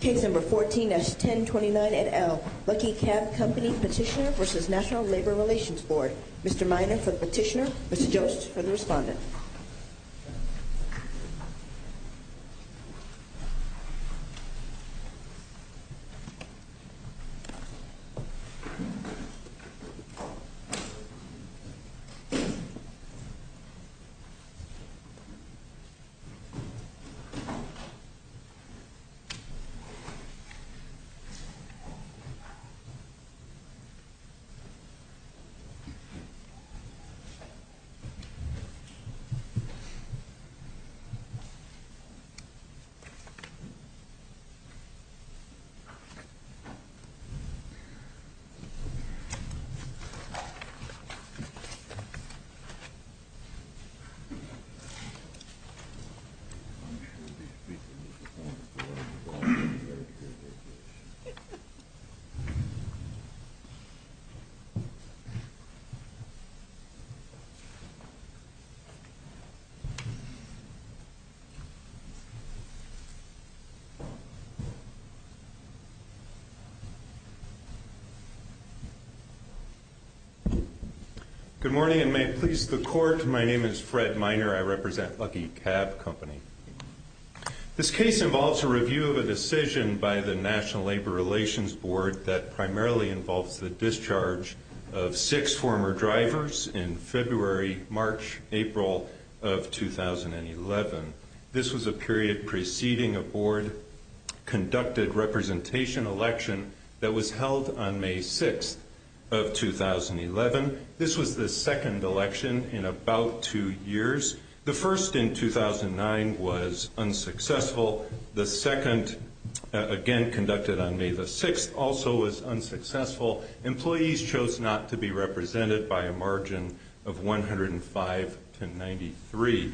Case No. 14-1029 et al. Lucky Cab Company Petitioner v. National Labor Relations Board. Mr. Minor for the petitioner, Mr. Jost for the respondent. Petitioner v. National Labor Relations Board. Petitioner v. National Labor Relations Board. Good morning and may it please the court, my name is Fred Minor, I represent Lucky Cab Company. This case involves a review of a decision by the National Labor Relations Board that primarily involves the discharge of six former drivers in February, March, April of 2011. This was a period preceding a board conducted representation election that was held on May 6th of 2011. This was the second election in about two years. The first in 2009 was unsuccessful. The second, again conducted on May the 6th, also was unsuccessful. Employees chose not to be represented by a margin of 105 to 93.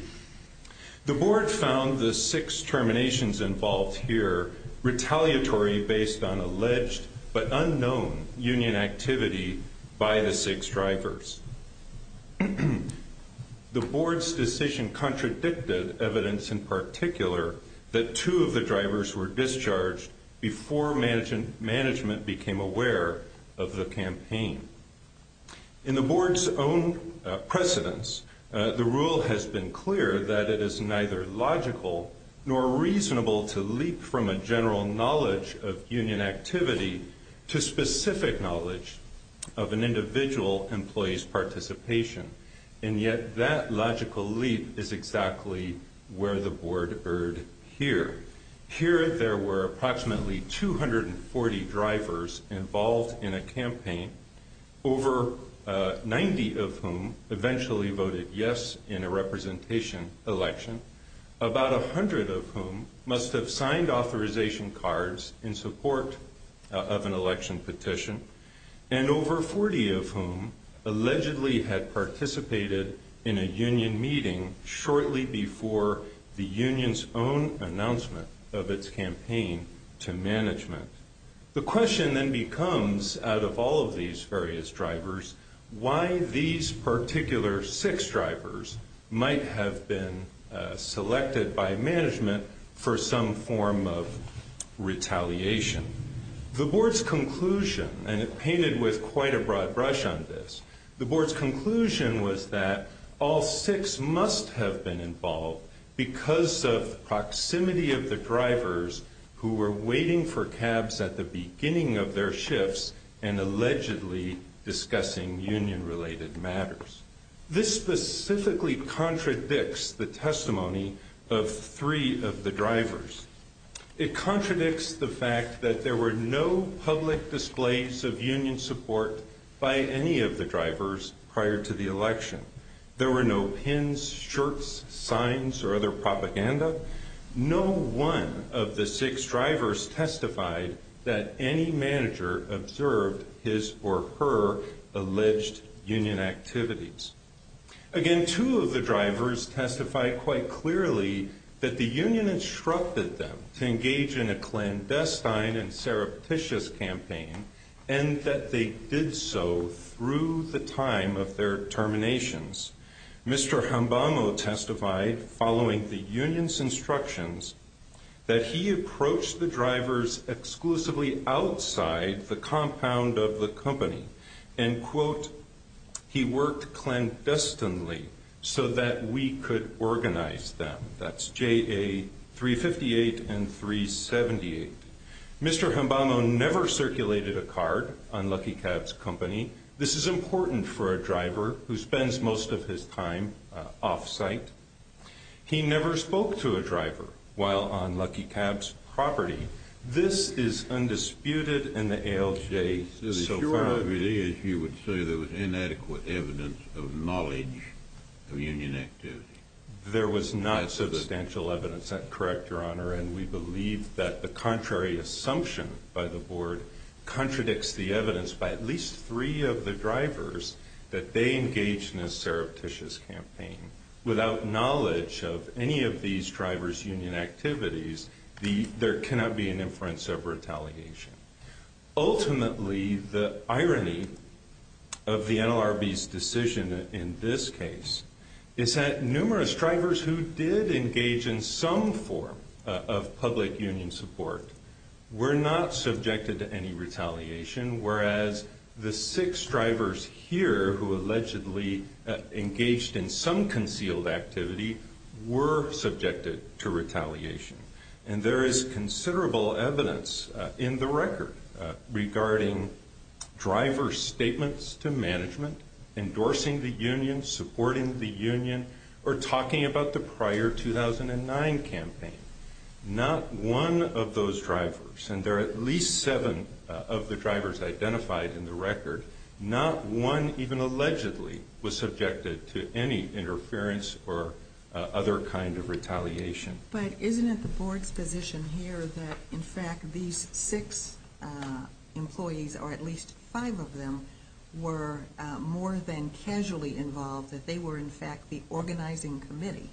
The board found the six terminations involved here retaliatory based on alleged but unknown union activity by the six drivers. The board's decision contradicted evidence in particular that two of the drivers were discharged before management became aware of the campaign. In the board's own precedence, the rule has been clear that it is neither logical nor reasonable to leap from a general knowledge of union activity to specific knowledge of an individual employee's participation. And yet that logical leap is exactly where the board erred here. Here there were approximately 240 drivers involved in a campaign, over 90 of whom eventually voted yes in a representation election, about 100 of whom must have signed authorization cards in support of an election petition, and over 40 of whom allegedly had participated in a union meeting shortly before the union's own announcement of its campaign to management. The question then becomes, out of all of these various drivers, why these particular six drivers might have been selected by management for some form of retaliation. The board's conclusion, and it painted with quite a broad brush on this, the board's conclusion was that all six must have been involved because of proximity of the drivers who were waiting for cabs at the beginning of their shifts and allegedly discussing union-related matters. This specifically contradicts the testimony of three of the drivers. It contradicts the fact that there were no public displays of union support by any of the drivers prior to the election. There were no pins, shirts, signs, or other propaganda. No one of the six drivers testified that any manager observed his or her alleged union activities. Again, two of the drivers testified quite clearly that the union instructed them to engage in a clandestine and surreptitious campaign and that they did so through the time of their terminations. Mr. Hambamo testified following the union's instructions that he approached the drivers exclusively outside the compound of the company and, quote, he worked clandestinely so that we could organize them. That's JA 358 and 378. Mr. Hambamo never circulated a card on Lucky Cab's company. This is important for a driver who spends most of his time off-site. He never spoke to a driver while on Lucky Cab's property. This is undisputed in the ALJ so far. The sure evidence you would say there was inadequate evidence of knowledge of union activity. There was not substantial evidence. And we believe that the contrary assumption by the board contradicts the evidence by at least three of the drivers that they engaged in a surreptitious campaign. Without knowledge of any of these drivers' union activities, there cannot be an inference of retaliation. Ultimately, the irony of the NLRB's decision in this case is that numerous drivers who did engage in some form of public union support were not subjected to any retaliation, whereas the six drivers here who allegedly engaged in some concealed activity were subjected to retaliation. And there is considerable evidence in the record regarding driver statements to management, endorsing the union, supporting the union, or talking about the prior 2009 campaign. Not one of those drivers, and there are at least seven of the drivers identified in the record, not one even allegedly was subjected to any interference or other kind of retaliation. But isn't it the board's position here that in fact these six employees, or at least five of them, were more than casually involved, that they were in fact the organizing committee?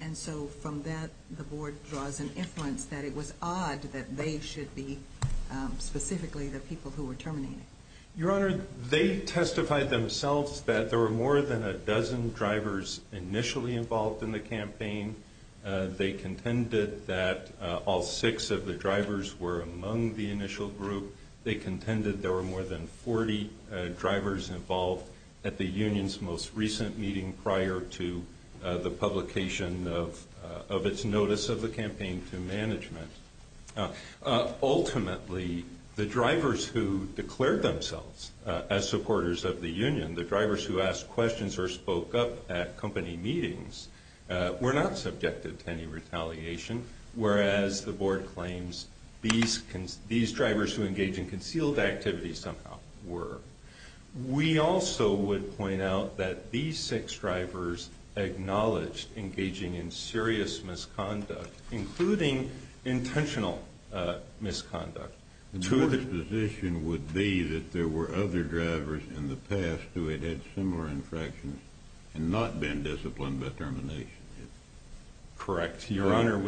And so from that, the board draws an inference that it was odd that they should be specifically the people who were terminating. Your Honor, they testified themselves that there were more than a dozen drivers initially involved in the campaign. They contended that all six of the drivers were among the initial group. They contended there were more than 40 drivers involved at the union's most recent meeting prior to the publication of its notice of the campaign to management. Ultimately, the drivers who declared themselves as supporters of the union, the drivers who asked questions or spoke up at company meetings, were not subjected to any retaliation, whereas the board claims these drivers who engaged in concealed activity somehow were. We also would point out that these six drivers acknowledged engaging in serious misconduct, including intentional misconduct. The board's position would be that there were other drivers in the past who had had similar infractions and not been disciplined by termination. Correct. Your Honor,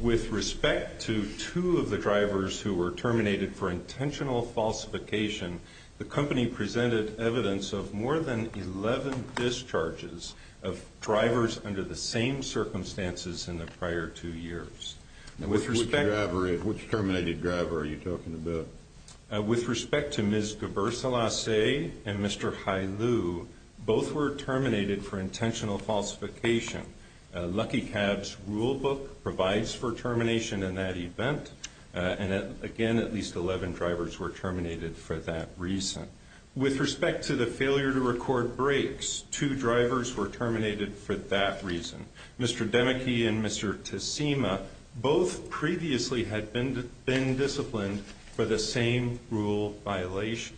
with respect to two of the drivers who were terminated for intentional falsification, the company presented evidence of more than 11 discharges of drivers under the same circumstances in the prior two years. Which terminated driver are you talking about? With respect to Ms. Gabersalase and Mr. Hailu, both were terminated for intentional falsification. Lucky Cab's rule book provides for termination in that event. And again, at least 11 drivers were terminated for that reason. With respect to the failure to record breaks, two drivers were terminated for that reason. Mr. Demeke and Mr. Tasima both previously had been disciplined for the same rule violation.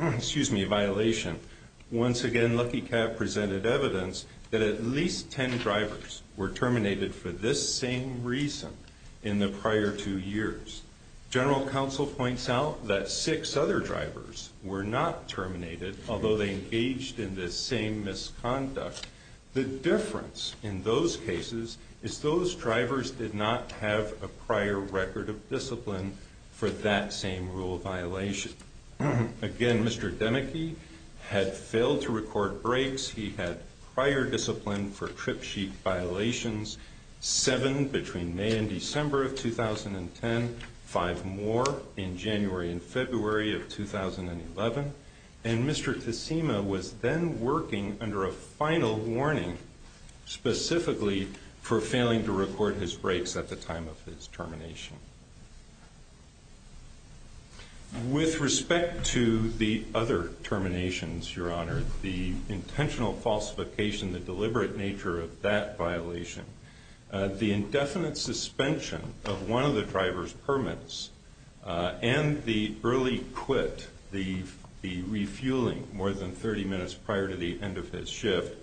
Excuse me, violation. Once again, Lucky Cab presented evidence that at least 10 drivers were terminated for this same reason in the prior two years. General Counsel points out that six other drivers were not terminated, although they engaged in this same misconduct. The difference in those cases is those drivers did not have a prior record of discipline for that same rule violation. Again, Mr. Demeke had failed to record breaks. He had prior discipline for trip sheet violations, seven between May and December of 2010, five more in January and February of 2011. And Mr. Tasima was then working under a final warning specifically for failing to record his breaks at the time of his termination. With respect to the other terminations, Your Honor, the intentional falsification, the deliberate nature of that violation, the indefinite suspension of one of the driver's permits, and the early quit, the refueling more than 30 minutes prior to the end of his shift,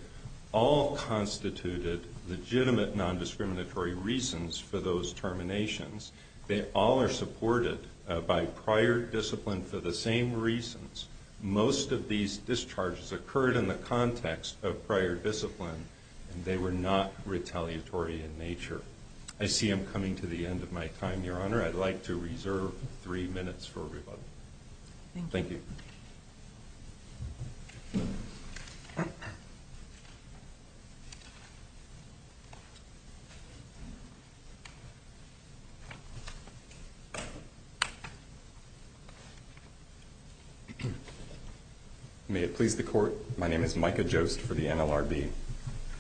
all constituted legitimate nondiscriminatory reasons for those terminations. They all are supported by prior discipline for the same reasons. Most of these discharges occurred in the context of prior discipline, and they were not retaliatory in nature. I see I'm coming to the end of my time, Your Honor. I'd like to reserve three minutes for rebuttal. Thank you. May it please the Court, my name is Micah Jost for the NLRB.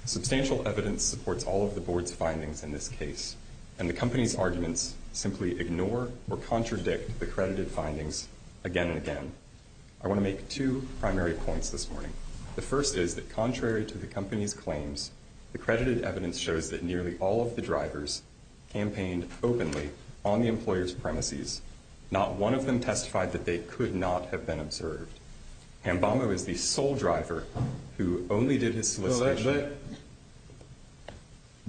Substantial evidence supports all of the Board's findings in this case, and the company's arguments simply ignore or contradict the credited findings again and again. I want to make two primary points this morning. The first is that contrary to the company's claims, the credited evidence shows that nearly all of the drivers campaigned openly on the employer's premises. Not one of them testified that they could not have been observed. Hambamu is the sole driver who only did his solicitation. Well, that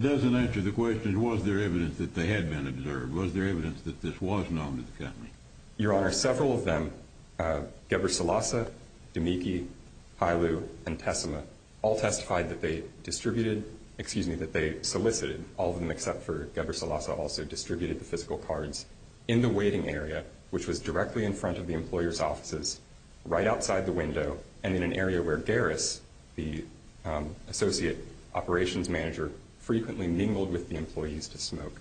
doesn't answer the question, was there evidence that they had been observed? Was there evidence that this was known to the company? Your Honor, several of them, Geber Salasa, Dumeke, Hailu, and Tessima, all testified that they distributed, excuse me, that they solicited, all of them except for Geber Salasa, also distributed the physical cards in the waiting area, which was directly in front of the employer's offices, right outside the window, and in an area where Garris, the associate operations manager, frequently mingled with the employees to smoke.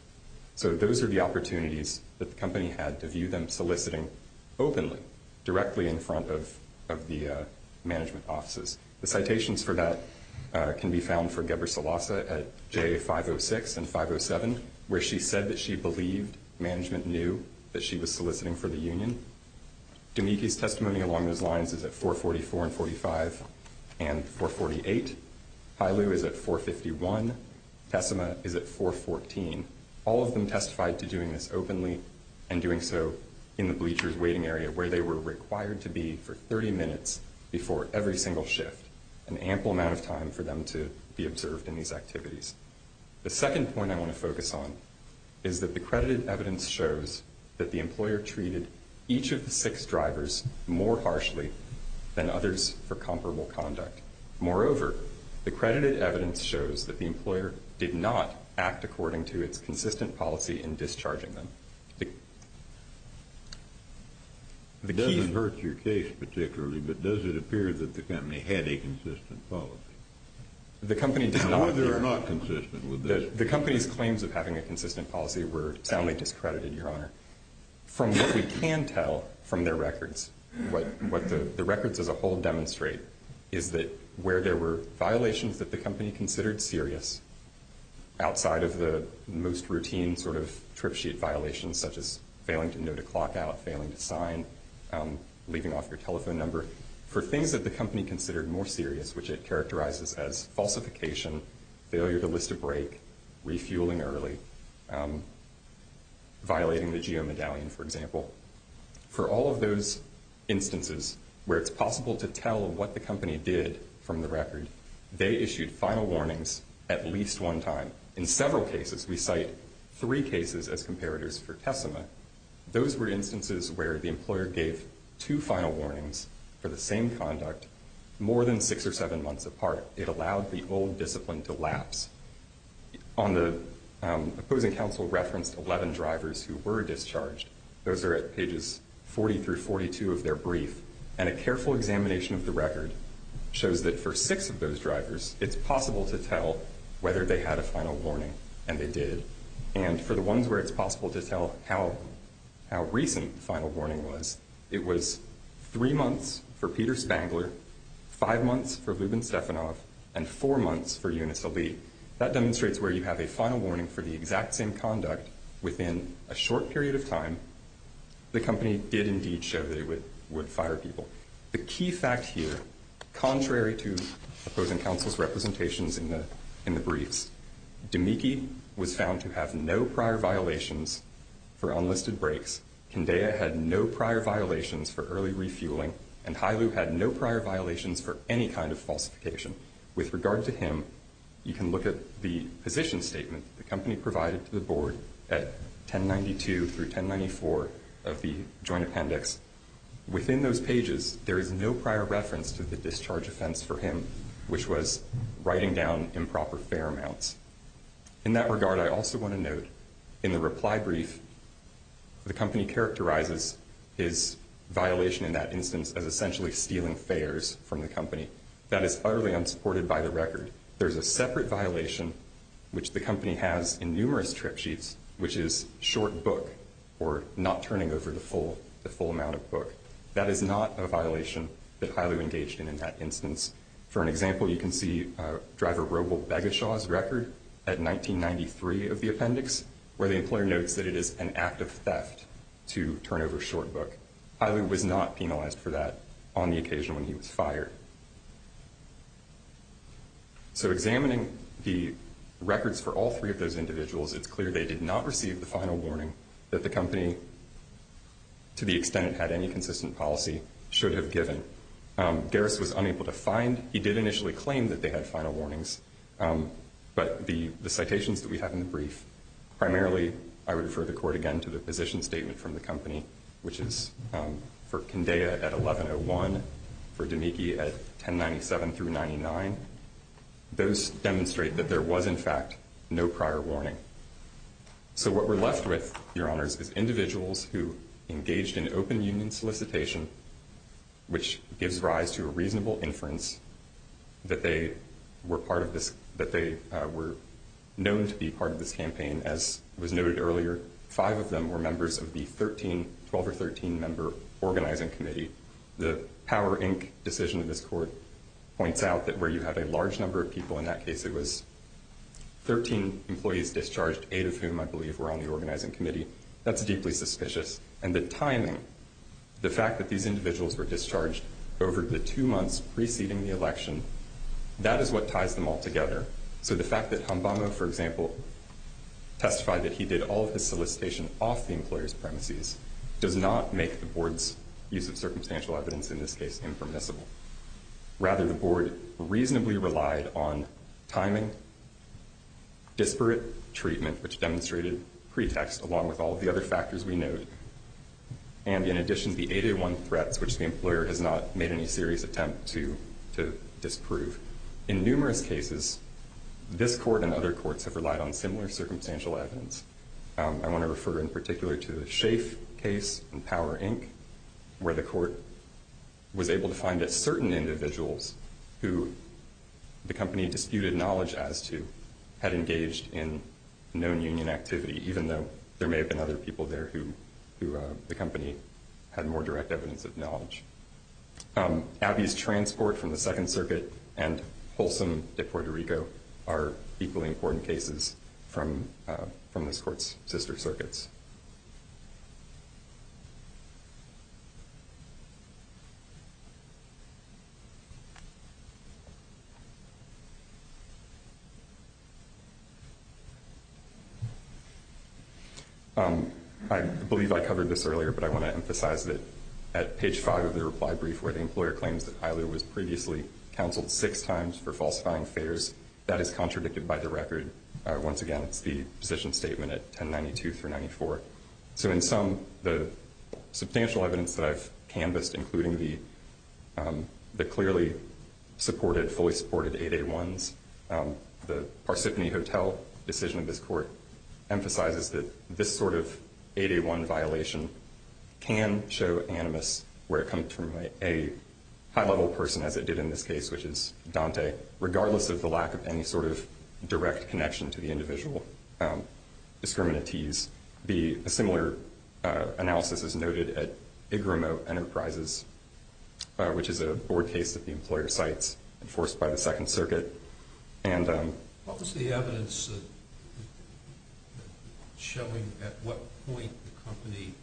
So those are the opportunities that the company had to view them soliciting openly, directly in front of the management offices. The citations for that can be found for Geber Salasa at J506 and 507, where she said that she believed management knew that she was soliciting for the union. Dumeke's testimony along those lines is at 444 and 45 and 448. Hailu is at 451. Tessima is at 414. All of them testified to doing this openly and doing so in the bleachers waiting area where they were required to be for 30 minutes before every single shift, an ample amount of time for them to be observed in these activities. The second point I want to focus on is that the credited evidence shows that the employer treated each of the six drivers more harshly than others for comparable conduct. Moreover, the credited evidence shows that the employer did not act according to its consistent policy in discharging them. It doesn't hurt your case particularly, but does it appear that the company had a consistent policy? The company did not. Or they were not consistent with this. The company's claims of having a consistent policy were soundly discredited, Your Honor. From what we can tell from their records, what the records as a whole demonstrate is that where there were violations that the company considered serious, outside of the most routine sort of trip sheet violations such as failing to note a clock out, failing to sign, leaving off your telephone number, for things that the company considered more serious, which it characterizes as falsification, failure to list a break, refueling early, violating the geo-medallion, for example, for all of those instances where it's possible to tell what the company did from the record, they issued final warnings at least one time. In several cases, we cite three cases as comparators for TESIMA. Those were instances where the employer gave two final warnings for the same conduct more than six or seven months apart. It allowed the old discipline to lapse. On the opposing counsel referenced 11 drivers who were discharged. Those are at pages 40 through 42 of their brief, and a careful examination of the record shows that for six of those drivers, it's possible to tell whether they had a final warning, and they did. And for the ones where it's possible to tell how recent the final warning was, it was three months for Peter Spangler, five months for Lubin Stefanov, and four months for Yunus Ali. That demonstrates where you have a final warning for the exact same conduct within a short period of time. The company did indeed show that it would fire people. The key fact here, contrary to opposing counsel's representations in the briefs, Dumeikin was found to have no prior violations for unlisted breaks. Kindeya had no prior violations for early refueling, and Hailu had no prior violations for any kind of falsification. With regard to him, you can look at the position statement the company provided to the board at 1092 through 1094 of the joint appendix. Within those pages, there is no prior reference to the discharge offense for him, which was writing down improper fare amounts. In that regard, I also want to note, in the reply brief, the company characterizes his violation in that instance as essentially stealing fares from the company. That is utterly unsupported by the record. There is a separate violation, which the company has in numerous trip sheets, which is short book, or not turning over the full amount of book. That is not a violation that Hailu engaged in in that instance. For an example, you can see Dr. Robel Begeshaw's record at 1993 of the appendix, where the employer notes that it is an act of theft to turn over short book. Hailu was not penalized for that on the occasion when he was fired. So examining the records for all three of those individuals, it's clear they did not receive the final warning that the company, to the extent it had any consistent policy, should have given. Garris was unable to find. He did initially claim that they had final warnings, but the citations that we have in the brief, primarily I would refer the Court again to the position statement from the company, which is for Kindea at 1101, for Demeke at 1097 through 99. Those demonstrate that there was, in fact, no prior warning. So what we're left with, Your Honors, is individuals who engaged in open union solicitation, which gives rise to a reasonable inference that they were known to be part of this campaign. As was noted earlier, five of them were members of the 12 or 13-member organizing committee. The Power, Inc. decision of this Court points out that where you had a large number of people in that case, it was 13 employees discharged, eight of whom, I believe, were on the organizing committee. That's deeply suspicious. And the timing, the fact that these individuals were discharged over the two months preceding the election, that is what ties them all together. So the fact that Hambano, for example, testified that he did all of his solicitation off the employer's premises does not make the Board's use of circumstantial evidence, in this case, impermissible. Rather, the Board reasonably relied on timing, disparate treatment, which demonstrated pretext along with all of the other factors we noted, and in addition, the 80-to-1 threats, which the employer has not made any serious attempt to disprove. In numerous cases, this Court and other courts have relied on similar circumstantial evidence. I want to refer in particular to the Schaaf case in Power, Inc., where the Court was able to find that certain individuals who the company disputed knowledge as to had engaged in known union activity, even though there may have been other people there who the company had more direct evidence of knowledge. Abbey's transport from the Second Circuit and Folsom de Puerto Rico are equally important cases from this Court's sister circuits. I believe I covered this earlier, but I want to emphasize that at page 5 of the reply brief, where the employer claims that Isla was previously counseled six times for falsifying affairs, that is contradicted by the record. Once again, it's the position statement at 1092-394, so in sum, the substantial evidence that I've canvassed, including the clearly supported, fully supported 80-to-1s, the Parsippany Hotel decision of this Court emphasizes that this sort of 80-to-1 violation can show animus where it comes from a high-level person, as it did in this case, which is Dante, regardless of the lack of any sort of direct connection to the individual discriminatees. A similar analysis is noted at Igrimo Enterprises, which is a board case that the employer cites, enforced by the Second Circuit. What was the evidence showing at what point the company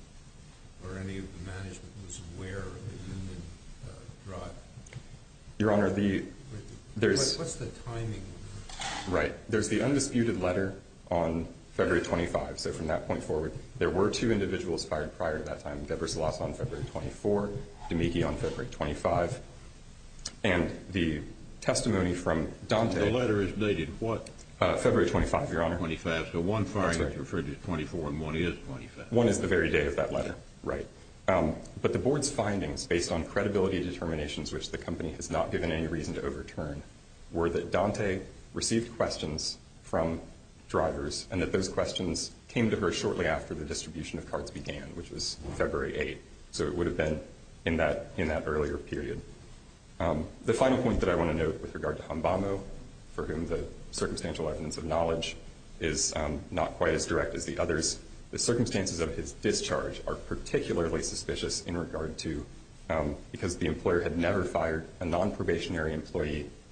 or any of the management was aware of the union drive? Your Honor, there's... What's the timing? Right. There's the undisputed letter on February 25th, so from that point forward, there were two individuals fired prior to that time, Debra Salas on February 24th, D'Amichi on February 25th, and the testimony from Dante... The letter is dated what? February 25th, Your Honor. February 25th, so one firing is referred to as 24 and one is 25. One is the very day of that letter, right. But the board's findings, based on credibility determinations which the company has not given any reason to overturn, were that Dante received questions from drivers and that those questions came to her shortly after the distribution of cards began, which was February 8th, so it would have been in that earlier period. The final point that I want to note with regard to Hambano, for whom the circumstantial evidence of knowledge is not quite as direct as the others, the circumstances of his discharge are particularly suspicious in regard to...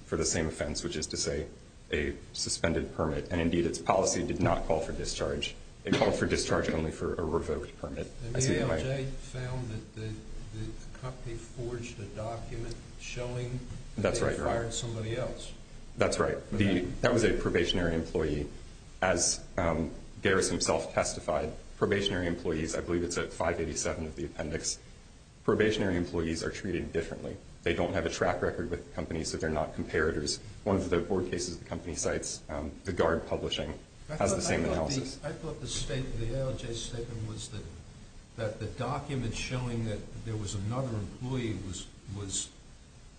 for the same offense, which is to say a suspended permit, and indeed its policy did not call for discharge. It called for discharge only for a revoked permit. The ALJ found that the company forged a document showing that they had fired somebody else. That's right. That was a probationary employee. As Garris himself testified, probationary employees, I believe it's at 587 of the appendix, probationary employees are treated differently. They don't have a track record with the company, so they're not comparators. One of the board cases the company cites, the guard publishing, has the same analysis. I thought the ALJ's statement was that the document showing that there was another employee was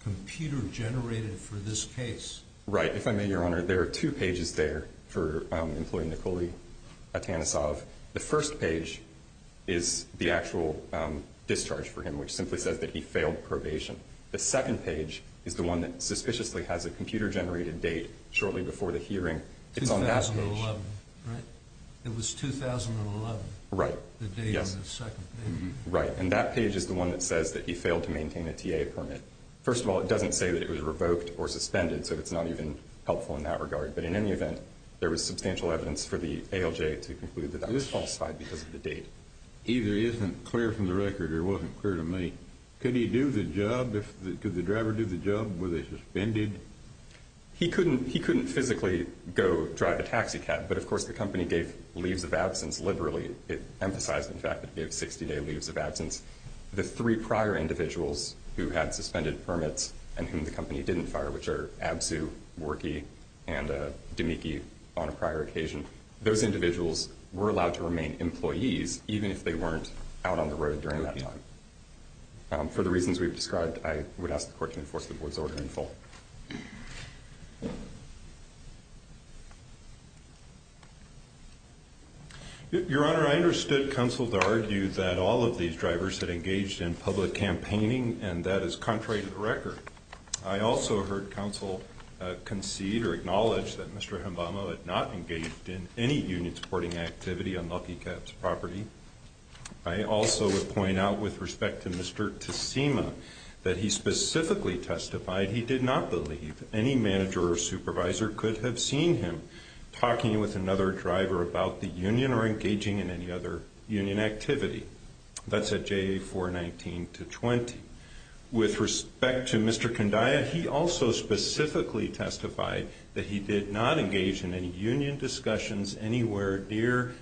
computer-generated for this case. Right. If I may, Your Honor, there are two pages there for employee Nikoli Atanasoff. The first page is the actual discharge for him, which simply says that he failed probation. The second page is the one that suspiciously has a computer-generated date shortly before the hearing. It's on that page. 2011, right? It was 2011. Right. Yes. The date on the second page. Right. And that page is the one that says that he failed to maintain a TA permit. First of all, it doesn't say that it was revoked or suspended, so it's not even helpful in that regard. But in any event, there was substantial evidence for the ALJ to conclude that that was falsified because of the date. It either isn't clear from the record or wasn't clear to me. Could he do the job? Could the driver do the job? Were they suspended? He couldn't physically go drive a taxi cab, but, of course, the company gave leaves of absence liberally. It emphasized, in fact, that it gave 60-day leaves of absence. The three prior individuals who had suspended permits and whom the company didn't fire, which are Abzu, Worky, and Domecki on a prior occasion, those individuals were allowed to remain employees even if they weren't out on the road during that time. For the reasons we've described, I would ask the court to enforce the board's order in full. Your Honor, I understood counsel to argue that all of these drivers had engaged in public campaigning, and that is contrary to the record. I also heard counsel concede or acknowledge that Mr. Hambama had not engaged in any union-supporting activity on Lucky Cab's property. I also would point out, with respect to Mr. Tasima, that he specifically testified he did not believe any manager or supervisor could have seen him talking with another driver about the union or engaging in any other union activity. That's at JA 419-20. With respect to Mr. Kandaya, he also specifically testified that he did not engage in any union discussions anywhere near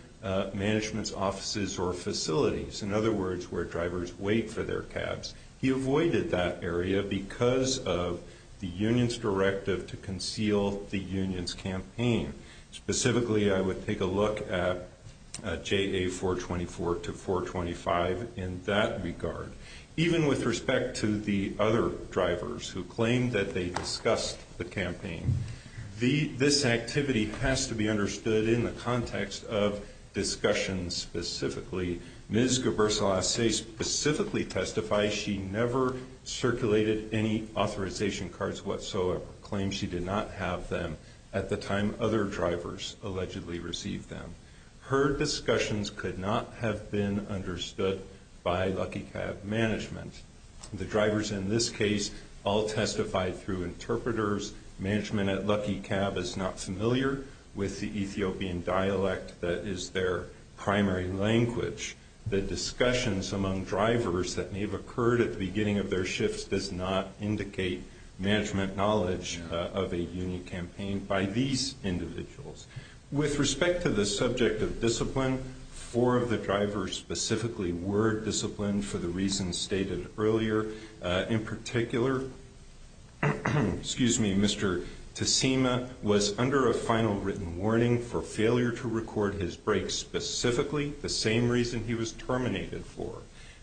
management's offices or facilities, in other words, where drivers wait for their cabs. He avoided that area because of the union's directive to conceal the union's campaign. Specifically, I would take a look at JA 424-425 in that regard. Even with respect to the other drivers who claimed that they discussed the campaign, this activity has to be understood in the context of discussions specifically. Ms. Gabersolase specifically testified she never circulated any authorization cards whatsoever, claiming she did not have them at the time other drivers allegedly received them. Her discussions could not have been understood by Lucky Cab management. The drivers in this case all testified through interpreters. Management at Lucky Cab is not familiar with the Ethiopian dialect that is their primary language. The discussions among drivers that may have occurred at the beginning of their shifts does not indicate management knowledge of a union campaign by these individuals. With respect to the subject of discipline, four of the drivers specifically were disciplined for the reasons stated earlier. In particular, Mr. Tasima was under a final written warning for failure to record his breaks, specifically the same reason he was terminated for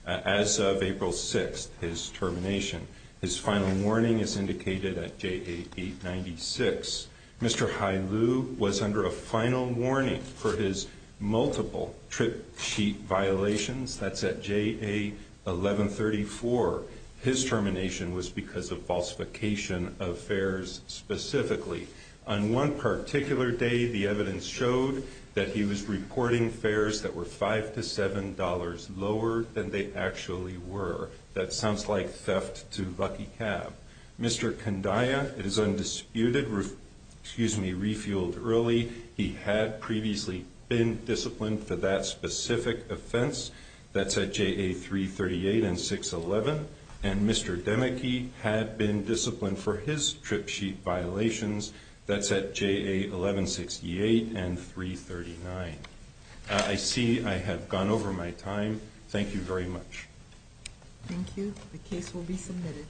as of April 6th, his termination. His final warning is indicated at JA 896. Mr. Hailu was under a final warning for his multiple trip sheet violations. That's at JA 1134. His termination was because of falsification of fares specifically. On one particular day, the evidence showed that he was reporting fares that were $5 to $7 lower than they actually were. That sounds like theft to Lucky Cab. Mr. Kandaya is undisputed refueled early. He had previously been disciplined for that specific offense. That's at JA 338 and 611. And Mr. Demeke had been disciplined for his trip sheet violations. That's at JA 1168 and 339. I see I have gone over my time. Thank you. The case will be submitted.